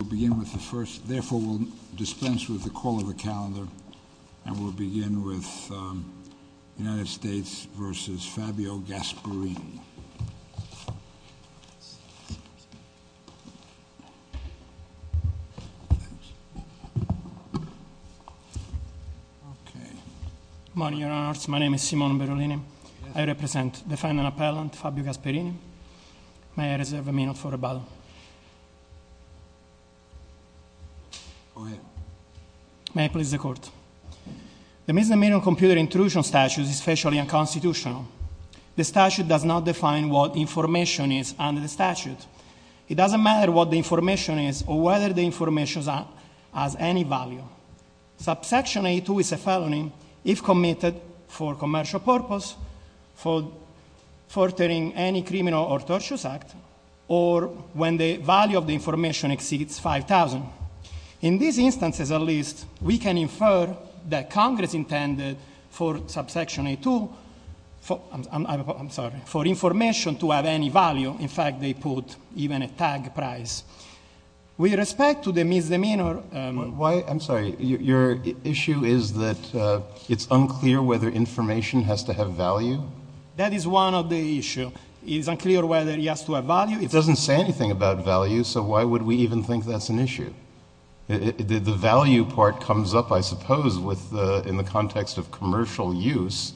We'll begin with the first, therefore we'll dispense with the call of the calendar and we'll begin with United States v. Fabio Gasparini. Good morning, your honors. My name is Simone Berolini. I represent the final appellant, Fabio Gasparini. May I reserve a minute for rebuttal? Go ahead. May I please the court? The Misdemeanor Computer Intrusion Statute is especially unconstitutional. The statute does not define what information is under the statute. It doesn't matter what the information is or whether the information has any value. Subsection a2 is a felony if committed for commercial purpose, for furthering any criminal or torturous act, or when the value of the information exceeds $5,000. In these instances, at least, we can infer that Congress intended for information to have any value. In fact, they put even a tag price. With respect to the misdemeanor— I'm sorry, your issue is that it's unclear whether information has to have value? That is one of the issues. It's unclear whether it has to have value. It doesn't say anything about value, so why would we even think that's an issue? The value part comes up, I suppose, in the context of commercial use,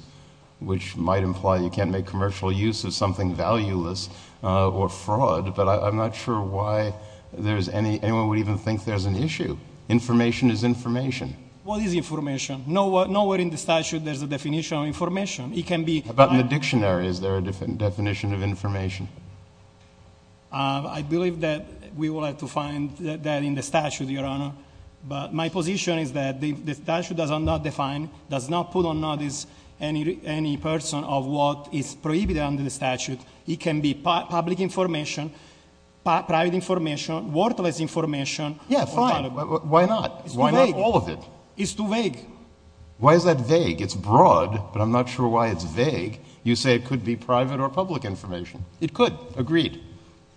which might imply you can't make commercial use of something valueless or fraud, but I'm not sure why anyone would even think there's an issue. Information is information. What is information? Nowhere in the statute there's a definition of information. It can be— How about in the dictionary? Is there a definition of information? I believe that we will have to find that in the statute, Your Honor, but my position is that the statute does not define, does not put on notice, any person of what is prohibited under the statute. It can be public information, private information, worthless information— Yeah, fine. Why not? Why not all of it? It's too vague. Why is that vague? It's broad, but I'm not sure why it's vague. You say it could be private or public information. It could. Agreed.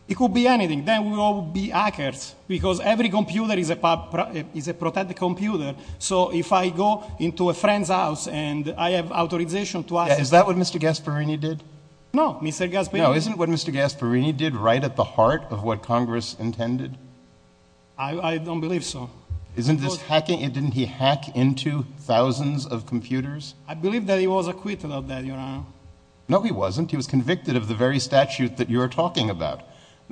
It could be anything. Then we will all be hackers because every computer is a protected computer, so if I go into a friend's house and I have authorization to access— Yeah, is that what Mr. Gasparini did? No, Mr. Gasparini— No, isn't what Mr. Gasparini did right at the heart of what Congress intended? I don't believe so. Isn't this hacking? Didn't he hack into thousands of computers? I believe that he was acquitted of that, Your Honor. No, he wasn't. He was convicted of the very statute that you are talking about,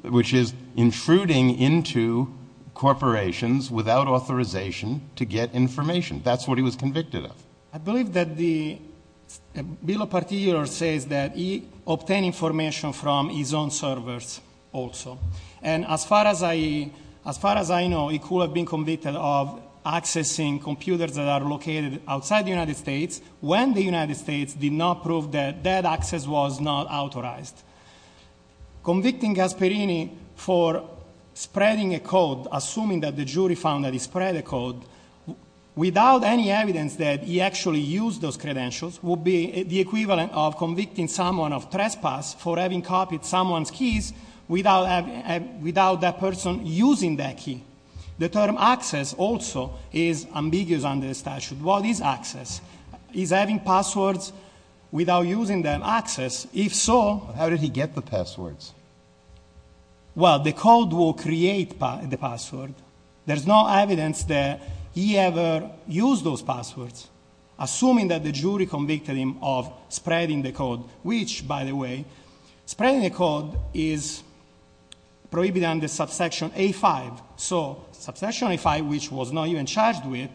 which is intruding into corporations without authorization to get information. That's what he was convicted of. I believe that the Bill of Particular says that he obtained information from his own servers also, and as far as I know, he could have been convicted of accessing computers that are located outside the United States when the United States did not prove that that access was not authorized. Convicting Gasparini for spreading a code, assuming that the jury found that he spread a code, without any evidence that he actually used those credentials, would be the equivalent of convicting someone of trespass for having copied someone's keys without that person using that key. The term access also is ambiguous under the statute. What is access? Is having passwords without using them access? If so... How did he get the passwords? Well, the code will create the password. There's no evidence that he ever used those passwords, assuming that the jury convicted him of spreading the code, which, by the way, spreading the code is prohibited under Subsection A-5. So Subsection A-5, which he was not even charged with,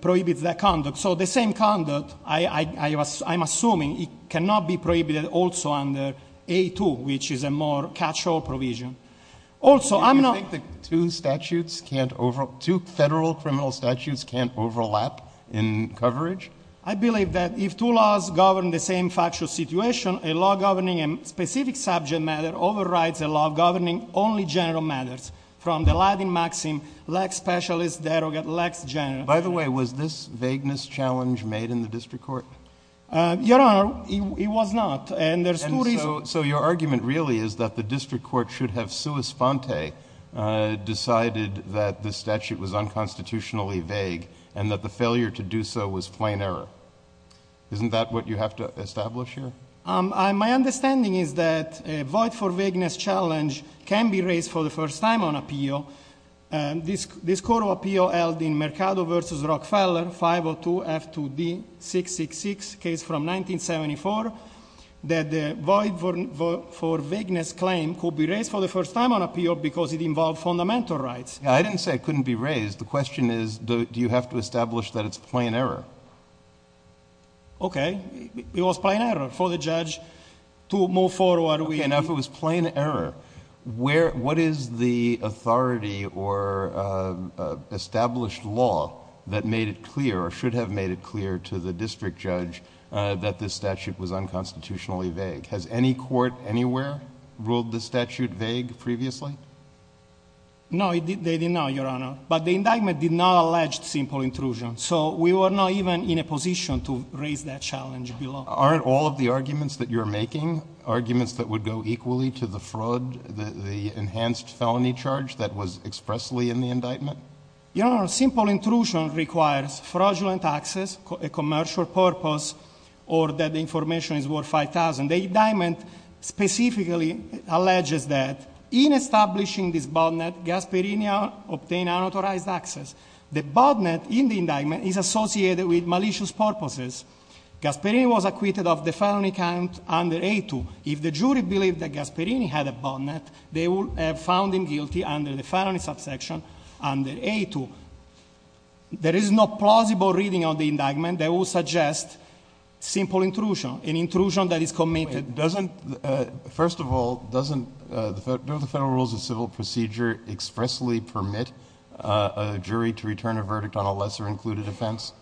prohibits that conduct. So the same conduct, I'm assuming, cannot be prohibited also under A-2, which is a more catch-all provision. Also, I'm not... Do you think the two federal criminal statutes can't overlap in coverage? I believe that if two laws govern the same factual situation, a law governing a specific subject matter overrides a law governing only general matters, from the Latin maxim, lax specialist, derogate, lax general. By the way, was this vagueness challenge made in the district court? Your Honor, it was not, and there's two reasons. So your argument really is that the district court should have sua sponte, decided that the statute was unconstitutionally vague and that the failure to do so was plain error. Isn't that what you have to establish here? My understanding is that a void for vagueness challenge can be raised for the first time on appeal. This court of appeal held in Mercado v. Rockefeller 502 F2D 666, case from 1974, that the void for vagueness claim could be raised for the first time on appeal because it involved fundamental rights. I didn't say it couldn't be raised. The question is, do you have to establish that it's plain error? Okay. It was plain error for the judge to move forward. Okay. Now, if it was plain error, what is the authority or established law that made it clear or should have made it clear to the district judge that this statute was unconstitutionally vague? Has any court anywhere ruled this statute vague previously? No, they didn't know, Your Honor. But the indictment did not allege simple intrusion. So we were not even in a position to raise that challenge below. Aren't all of the arguments that you're making arguments that would go equally to the fraud, the enhanced felony charge that was expressly in the indictment? Your Honor, simple intrusion requires fraudulent access, a commercial purpose, or that the information is worth $5,000. The indictment specifically alleges that. In establishing this botnet, Gasparini obtained unauthorized access. The botnet in the indictment is associated with malicious purposes. Gasparini was acquitted of the felony count under A2. If the jury believed that Gasparini had a botnet, they would have found him guilty under the felony subsection under A2. There is no plausible reading of the indictment that would suggest simple intrusion, an intrusion that is committed. First of all, doesn't the Federal Rules of Civil Procedure expressly permit a jury to return a verdict on a lesser-included offense?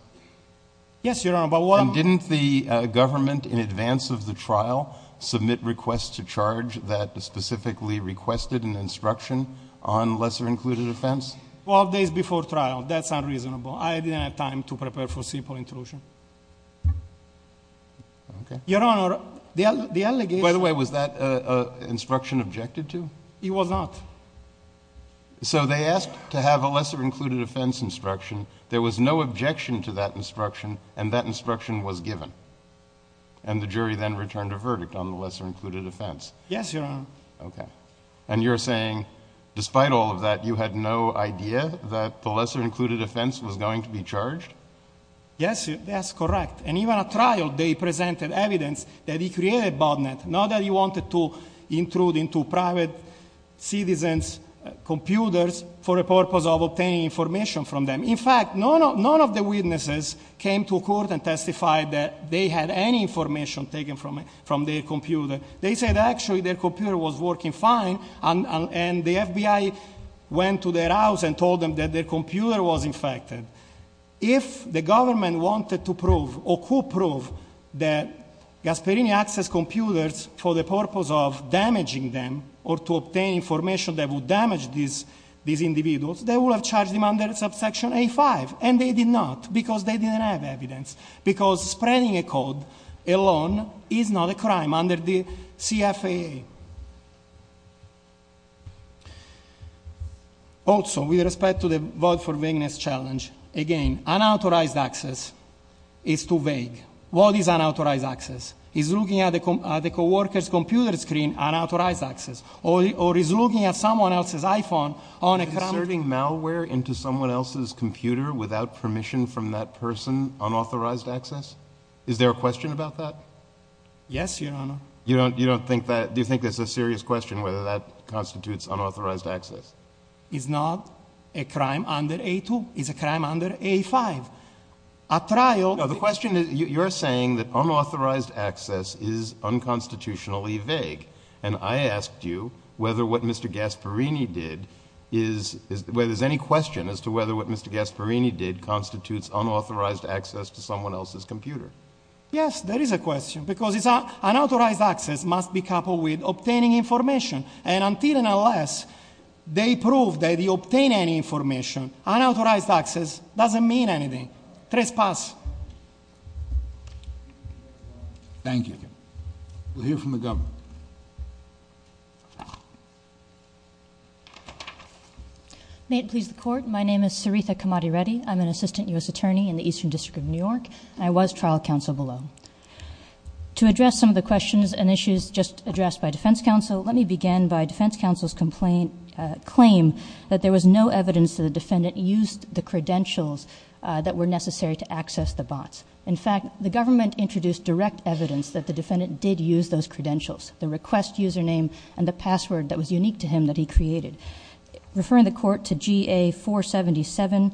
Yes, Your Honor. And didn't the government in advance of the trial submit requests to charge that specifically requested an instruction on lesser-included offense? Well, days before trial. That's unreasonable. I didn't have time to prepare for simple intrusion. Okay. Your Honor, the allegation— By the way, was that an instruction objected to? It was not. So they asked to have a lesser-included offense instruction. There was no objection to that instruction, and that instruction was given. And the jury then returned a verdict on the lesser-included offense. Yes, Your Honor. Okay. And you're saying, despite all of that, you had no idea that the lesser-included offense was going to be charged? Yes. That's correct. And even at trial, they presented evidence that he created botnet, not that he wanted to intrude into private citizens' computers for the purpose of obtaining information from them. In fact, none of the witnesses came to court and testified that they had any information taken from their computer. They said, actually, their computer was working fine, and the FBI went to their house and told them that their computer was infected. If the government wanted to prove, or could prove, that Gasparini accessed computers for the purpose of damaging them or to obtain information that would damage these individuals, they would have charged them under subsection A-5. And they did not, because they didn't have evidence, because spreading a code alone is not a crime under the CFAA. Thank you. Also, with respect to the vote for vagueness challenge, again, unauthorized access is too vague. What is unauthorized access? Is looking at the co-worker's computer screen unauthorized access? Or is looking at someone else's iPhone on a computer? Is inserting malware into someone else's computer without permission from that person unauthorized access? Is there a question about that? Yes, Your Honor. You don't think that? Do you think that's a serious question, whether that constitutes unauthorized access? It's not a crime under A-2. It's a crime under A-5. The question is, you're saying that unauthorized access is unconstitutionally vague, and I asked you whether what Mr. Gasparini did is, whether there's any question as to whether what Mr. Gasparini did constitutes unauthorized access to someone else's computer. Yes, there is a question. Because unauthorized access must be coupled with obtaining information. And until and unless they prove that you obtain any information, unauthorized access doesn't mean anything. Trespass. Thank you. We'll hear from the government. May it please the Court, my name is Saritha Kamadi Reddy. I'm an assistant U.S. attorney in the Eastern District of New York. I was trial counsel below. To address some of the questions and issues just addressed by defense counsel, let me begin by defense counsel's complaint, claim that there was no evidence that the defendant used the credentials that were necessary to access the bots. In fact, the government introduced direct evidence that the defendant did use those credentials, the request username and the password that was unique to him that he created. Referring the Court to GA-477,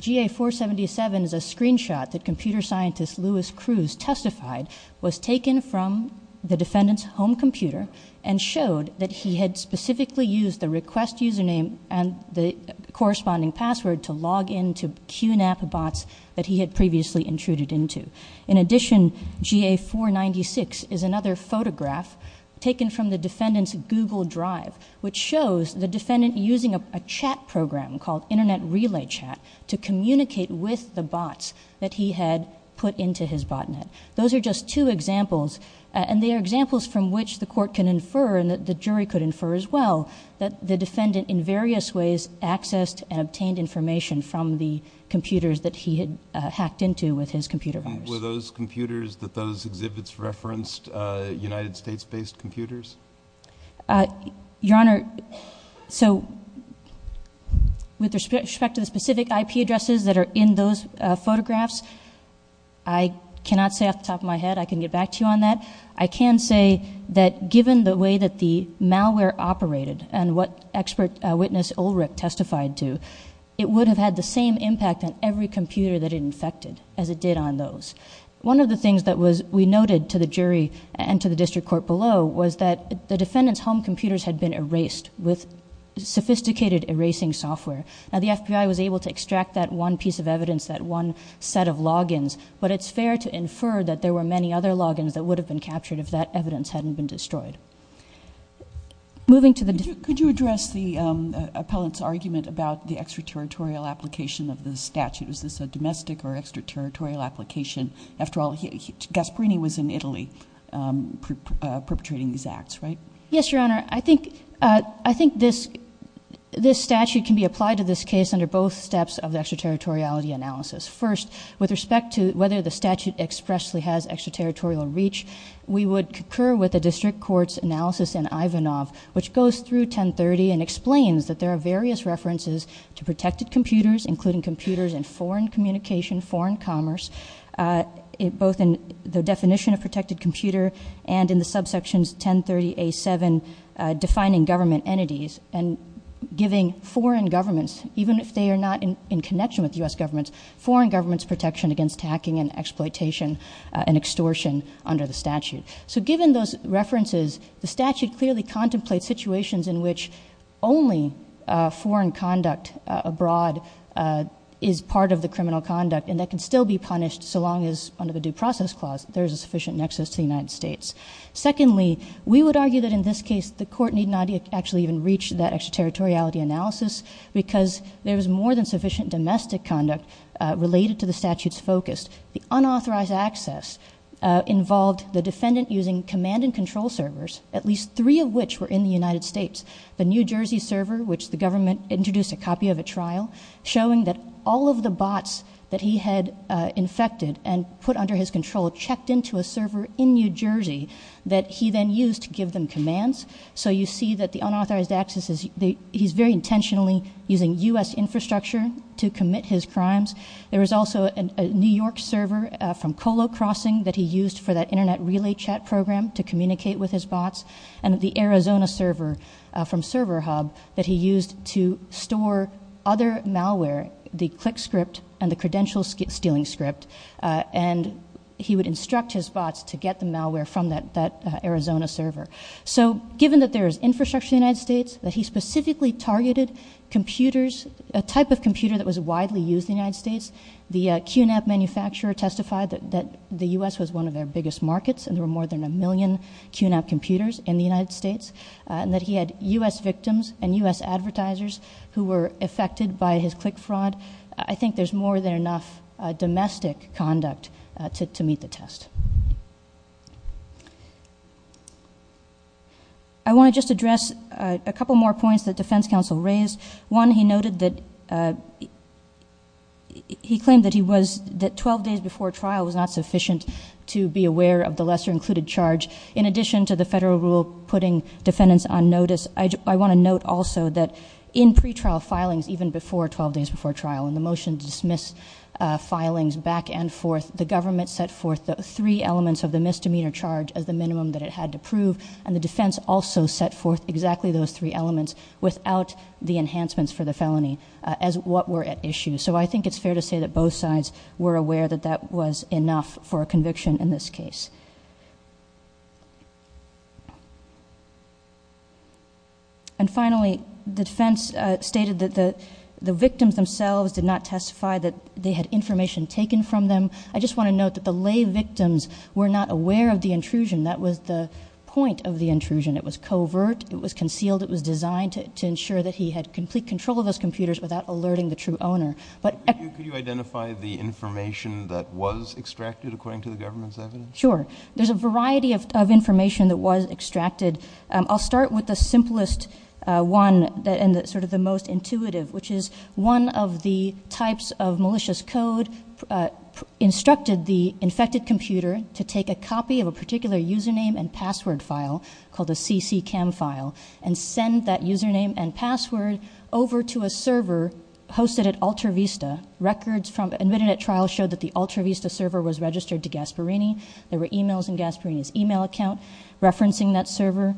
GA-477 is a screenshot that computer scientist Louis Cruz testified was taken from the defendant's home computer and showed that he had specifically used the request username and the corresponding password to log in to QNAP bots that he had previously intruded into. In addition, GA-496 is another photograph taken from the defendant's Google Drive, which shows the defendant using a chat program called Internet Relay Chat to communicate with the bots that he had put into his botnet. Those are just two examples, and they are examples from which the Court can infer and the jury could infer as well that the defendant in various ways accessed and obtained information from the computers that he had hacked into with his computer virus. Were those computers that those exhibits referenced United States-based computers? Your Honor, so with respect to the specific IP addresses that are in those photographs, I cannot say off the top of my head, I can get back to you on that. I can say that given the way that the malware operated and what expert witness Ulrich testified to, it would have had the same impact on every computer that it infected as it did on those. One of the things that we noted to the jury and to the district court below was that the defendant's home computers had been erased with sophisticated erasing software. Now, the FBI was able to extract that one piece of evidence, that one set of logins, but it's fair to infer that there were many other logins that would have been captured if that evidence hadn't been destroyed. Moving to the... Could you address the appellant's argument about the extraterritorial application of the statute? Was this a domestic or extraterritorial application? After all, Gasparini was in Italy perpetrating these acts, right? Yes, Your Honor. I think this statute can be applied to this case under both steps of the extraterritoriality analysis. First, with respect to whether the statute expressly has extraterritorial reach, we would concur with the district court's analysis in Ivanov, which goes through 1030 and explains that there are various references to protected computers, including computers in foreign communication, foreign commerce, both in the definition of protected computer and in the subsections 1030A7 defining government entities and giving foreign governments, even if they are not in connection with U.S. governments, foreign governments' protection against hacking and exploitation and extortion under the statute. So given those references, the statute clearly contemplates situations in which only foreign conduct abroad is part of the criminal conduct and that can still be punished so long as, under the due process clause, there is a sufficient nexus to the United States. Secondly, we would argue that in this case the court need not actually even reach that extraterritoriality analysis because there is more than sufficient domestic conduct related to the statute's focus. The unauthorized access involved the defendant using command and control servers, at least three of which were in the United States. The New Jersey server, which the government introduced a copy of at trial, showing that all of the bots that he had infected and put under his control checked into a server in New Jersey that he then used to give them commands. So you see that the unauthorized access, he's very intentionally using U.S. infrastructure to commit his crimes. There was also a New York server from Colo Crossing that he used for that Internet relay chat program to communicate with his bots, and the Arizona server from Server Hub that he used to store other malware, the click script and the credential stealing script, and he would instruct his bots to get the malware from that Arizona server. So given that there is infrastructure in the United States, that he specifically targeted computers, a type of computer that was widely used in the United States, the QNAP manufacturer testified that the U.S. was one of their biggest markets and there were more than a million QNAP computers in the United States, and that he had U.S. victims and U.S. advertisers who were affected by his click fraud. I think there's more than enough domestic conduct to meet the test. I want to just address a couple more points that defense counsel raised. One, he noted that he claimed that 12 days before trial was not sufficient to be aware of the lesser included charge. In addition to the federal rule putting defendants on notice, I want to note also that in pretrial filings even before 12 days before trial, in the motion to dismiss filings back and forth, the government set forth the three elements of the misdemeanor charge as the minimum that it had to prove, and the defense also set forth exactly those three elements without the enhancements for the felony as what were at issue. So I think it's fair to say that both sides were aware that that was enough for a conviction in this case. And finally, the defense stated that the victims themselves did not testify that they had information taken from them. I just want to note that the lay victims were not aware of the intrusion. That was the point of the intrusion. It was covert. It was concealed. It was designed to ensure that he had complete control of those computers without alerting the true owner. But could you identify the information that was extracted according to the government's evidence? Sure. There's a variety of information that was extracted. I'll start with the simplest one and sort of the most intuitive, which is one of the types of malicious code instructed the infected computer to take a copy of a particular username and password file called a CCCAM file and send that username and password over to a server hosted at Alta Vista. Records from an Internet trial showed that the Alta Vista server was registered to Gasparini. There were e-mails in Gasparini's e-mail account referencing that server.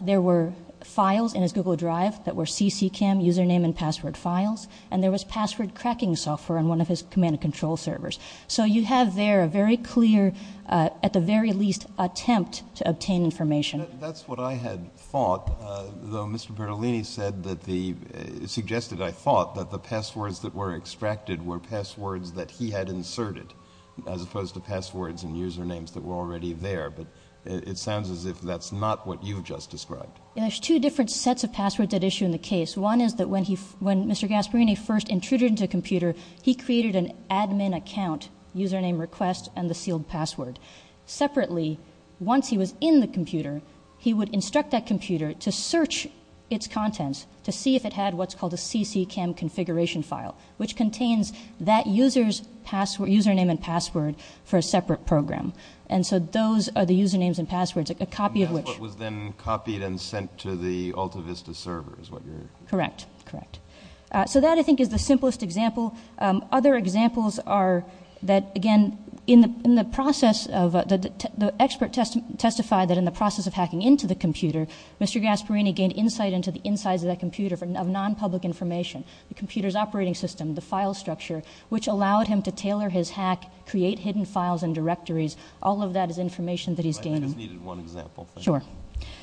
There were files in his Google Drive that were CCCAM username and password files, and there was password cracking software on one of his command and control servers. So you have there a very clear, at the very least, attempt to obtain information. That's what I had thought, though Mr. Bertolini suggested I thought that the passwords that were extracted were passwords that he had inserted, as opposed to passwords and usernames that were already there. But it sounds as if that's not what you've just described. There's two different sets of passwords at issue in the case. One is that when Mr. Gasparini first intruded into a computer, he created an admin account, username request, and the sealed password. Separately, once he was in the computer, he would instruct that computer to search its contents to see if it had what's called a CCCAM configuration file, which contains that user's username and password for a separate program. And so those are the usernames and passwords, a copy of which- And that's what was then copied and sent to the AltaVista server is what you're- Correct, correct. So that, I think, is the simplest example. Other examples are that, again, the expert testified that in the process of hacking into the computer, Mr. Gasparini gained insight into the insides of that computer of non-public information, the computer's operating system, the file structure, which allowed him to tailor his hack, create hidden files and directories. All of that is information that he's gained. I just needed one example. Sure.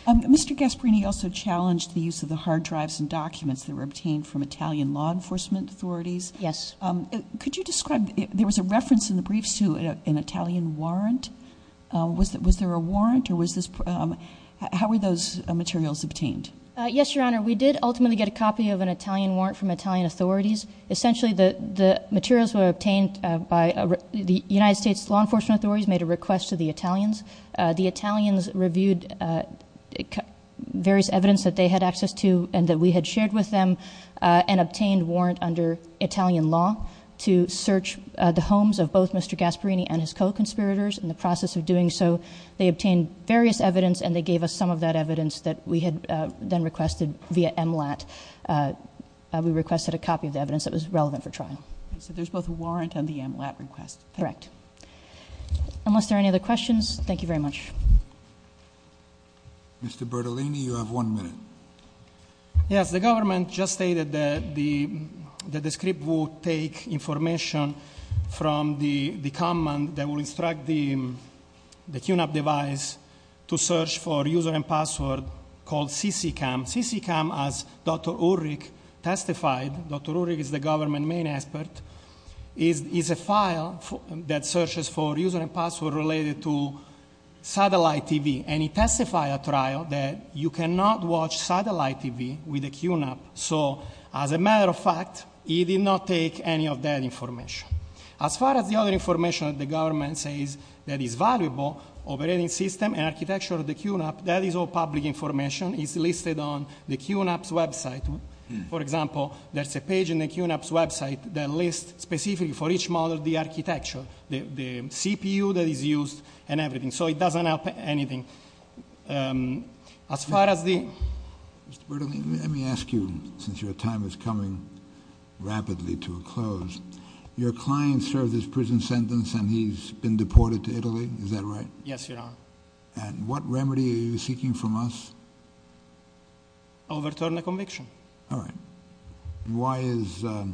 Mr. Gasparini also challenged the use of the hard drives and documents that were obtained from Italian law enforcement authorities. Yes. Could you describe- there was a reference in the briefs to an Italian warrant. Was there a warrant or was this- how were those materials obtained? Yes, Your Honor. We did ultimately get a copy of an Italian warrant from Italian authorities. Essentially, the materials were obtained by- the United States law enforcement authorities made a request to the Italians. The Italians reviewed various evidence that they had access to and that we had shared with them and obtained warrant under Italian law to search the homes of both Mr. Gasparini and his co-conspirators in the process of doing so. They obtained various evidence and they gave us some of that evidence that we had then requested via MLAT. We requested a copy of the evidence that was relevant for trial. So there's both a warrant and the MLAT request. Correct. Unless there are any other questions, thank you very much. Mr. Bertolini, you have one minute. Yes. The government just stated that the script will take information from the command that will instruct the QNAP device to search for user and password called CCCAM. CCCAM, as Dr. Ulrich testified- Dr. Ulrich is the government main expert- is a file that searches for user and password related to satellite TV. And he testified at trial that you cannot watch satellite TV with a QNAP. So as a matter of fact, he did not take any of that information. As far as the other information that the government says that is valuable, operating system and architecture of the QNAP, that is all public information. It's listed on the QNAP's website. For example, there's a page in the QNAP's website that lists specifically for each model the architecture, the CPU that is used and everything. So it doesn't help anything. As far as the- Mr. Bertolini, let me ask you, since your time is coming rapidly to a close, your client served his prison sentence and he's been deported to Italy, is that right? Yes, Your Honor. And what remedy are you seeking from us? Overturn the conviction. All right. Why is that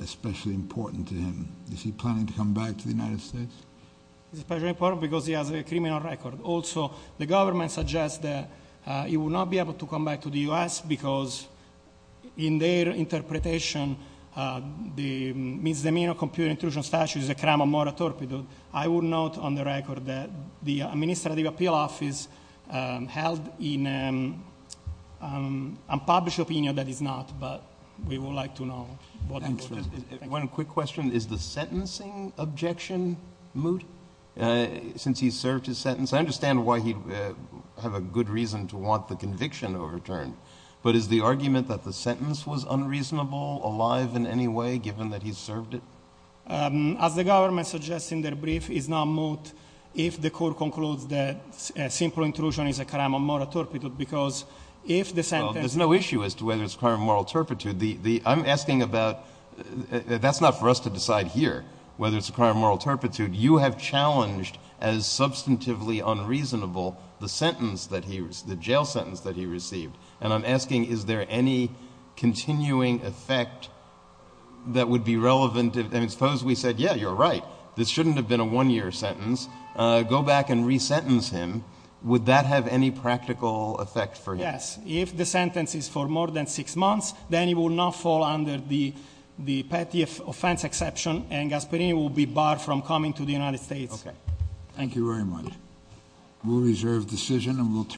especially important to him? Is he planning to come back to the United States? It's especially important because he has a criminal record. Also, the government suggests that he will not be able to come back to the U.S. because in their interpretation, the misdemeanor of computer intrusion statute is a crime of moral torpedo. I will note on the record that the Administrative Appeal Office held an unpublished opinion that it's not, but we would like to know. One quick question. Is the sentencing objection moot since he served his sentence? I understand why he would have a good reason to want the conviction overturned, but is the argument that the sentence was unreasonable, alive in any way, given that he served it? As the government suggests in their brief, it's not moot if the court concludes that simple intrusion is a crime of moral torpedo because if the sentence- Well, there's no issue as to whether it's a crime of moral torpedo. I'm asking about-that's not for us to decide here whether it's a crime of moral torpedo. You have challenged as substantively unreasonable the sentence that he-the jail sentence that he received, and I'm asking is there any continuing effect that would be relevant? Suppose we said, yeah, you're right. This shouldn't have been a one-year sentence. Go back and re-sentence him. Would that have any practical effect for him? Yes. If the sentence is for more than six months, then he will not fall under the petty offense exception and Gasparini will be barred from coming to the United States. Thank you very much.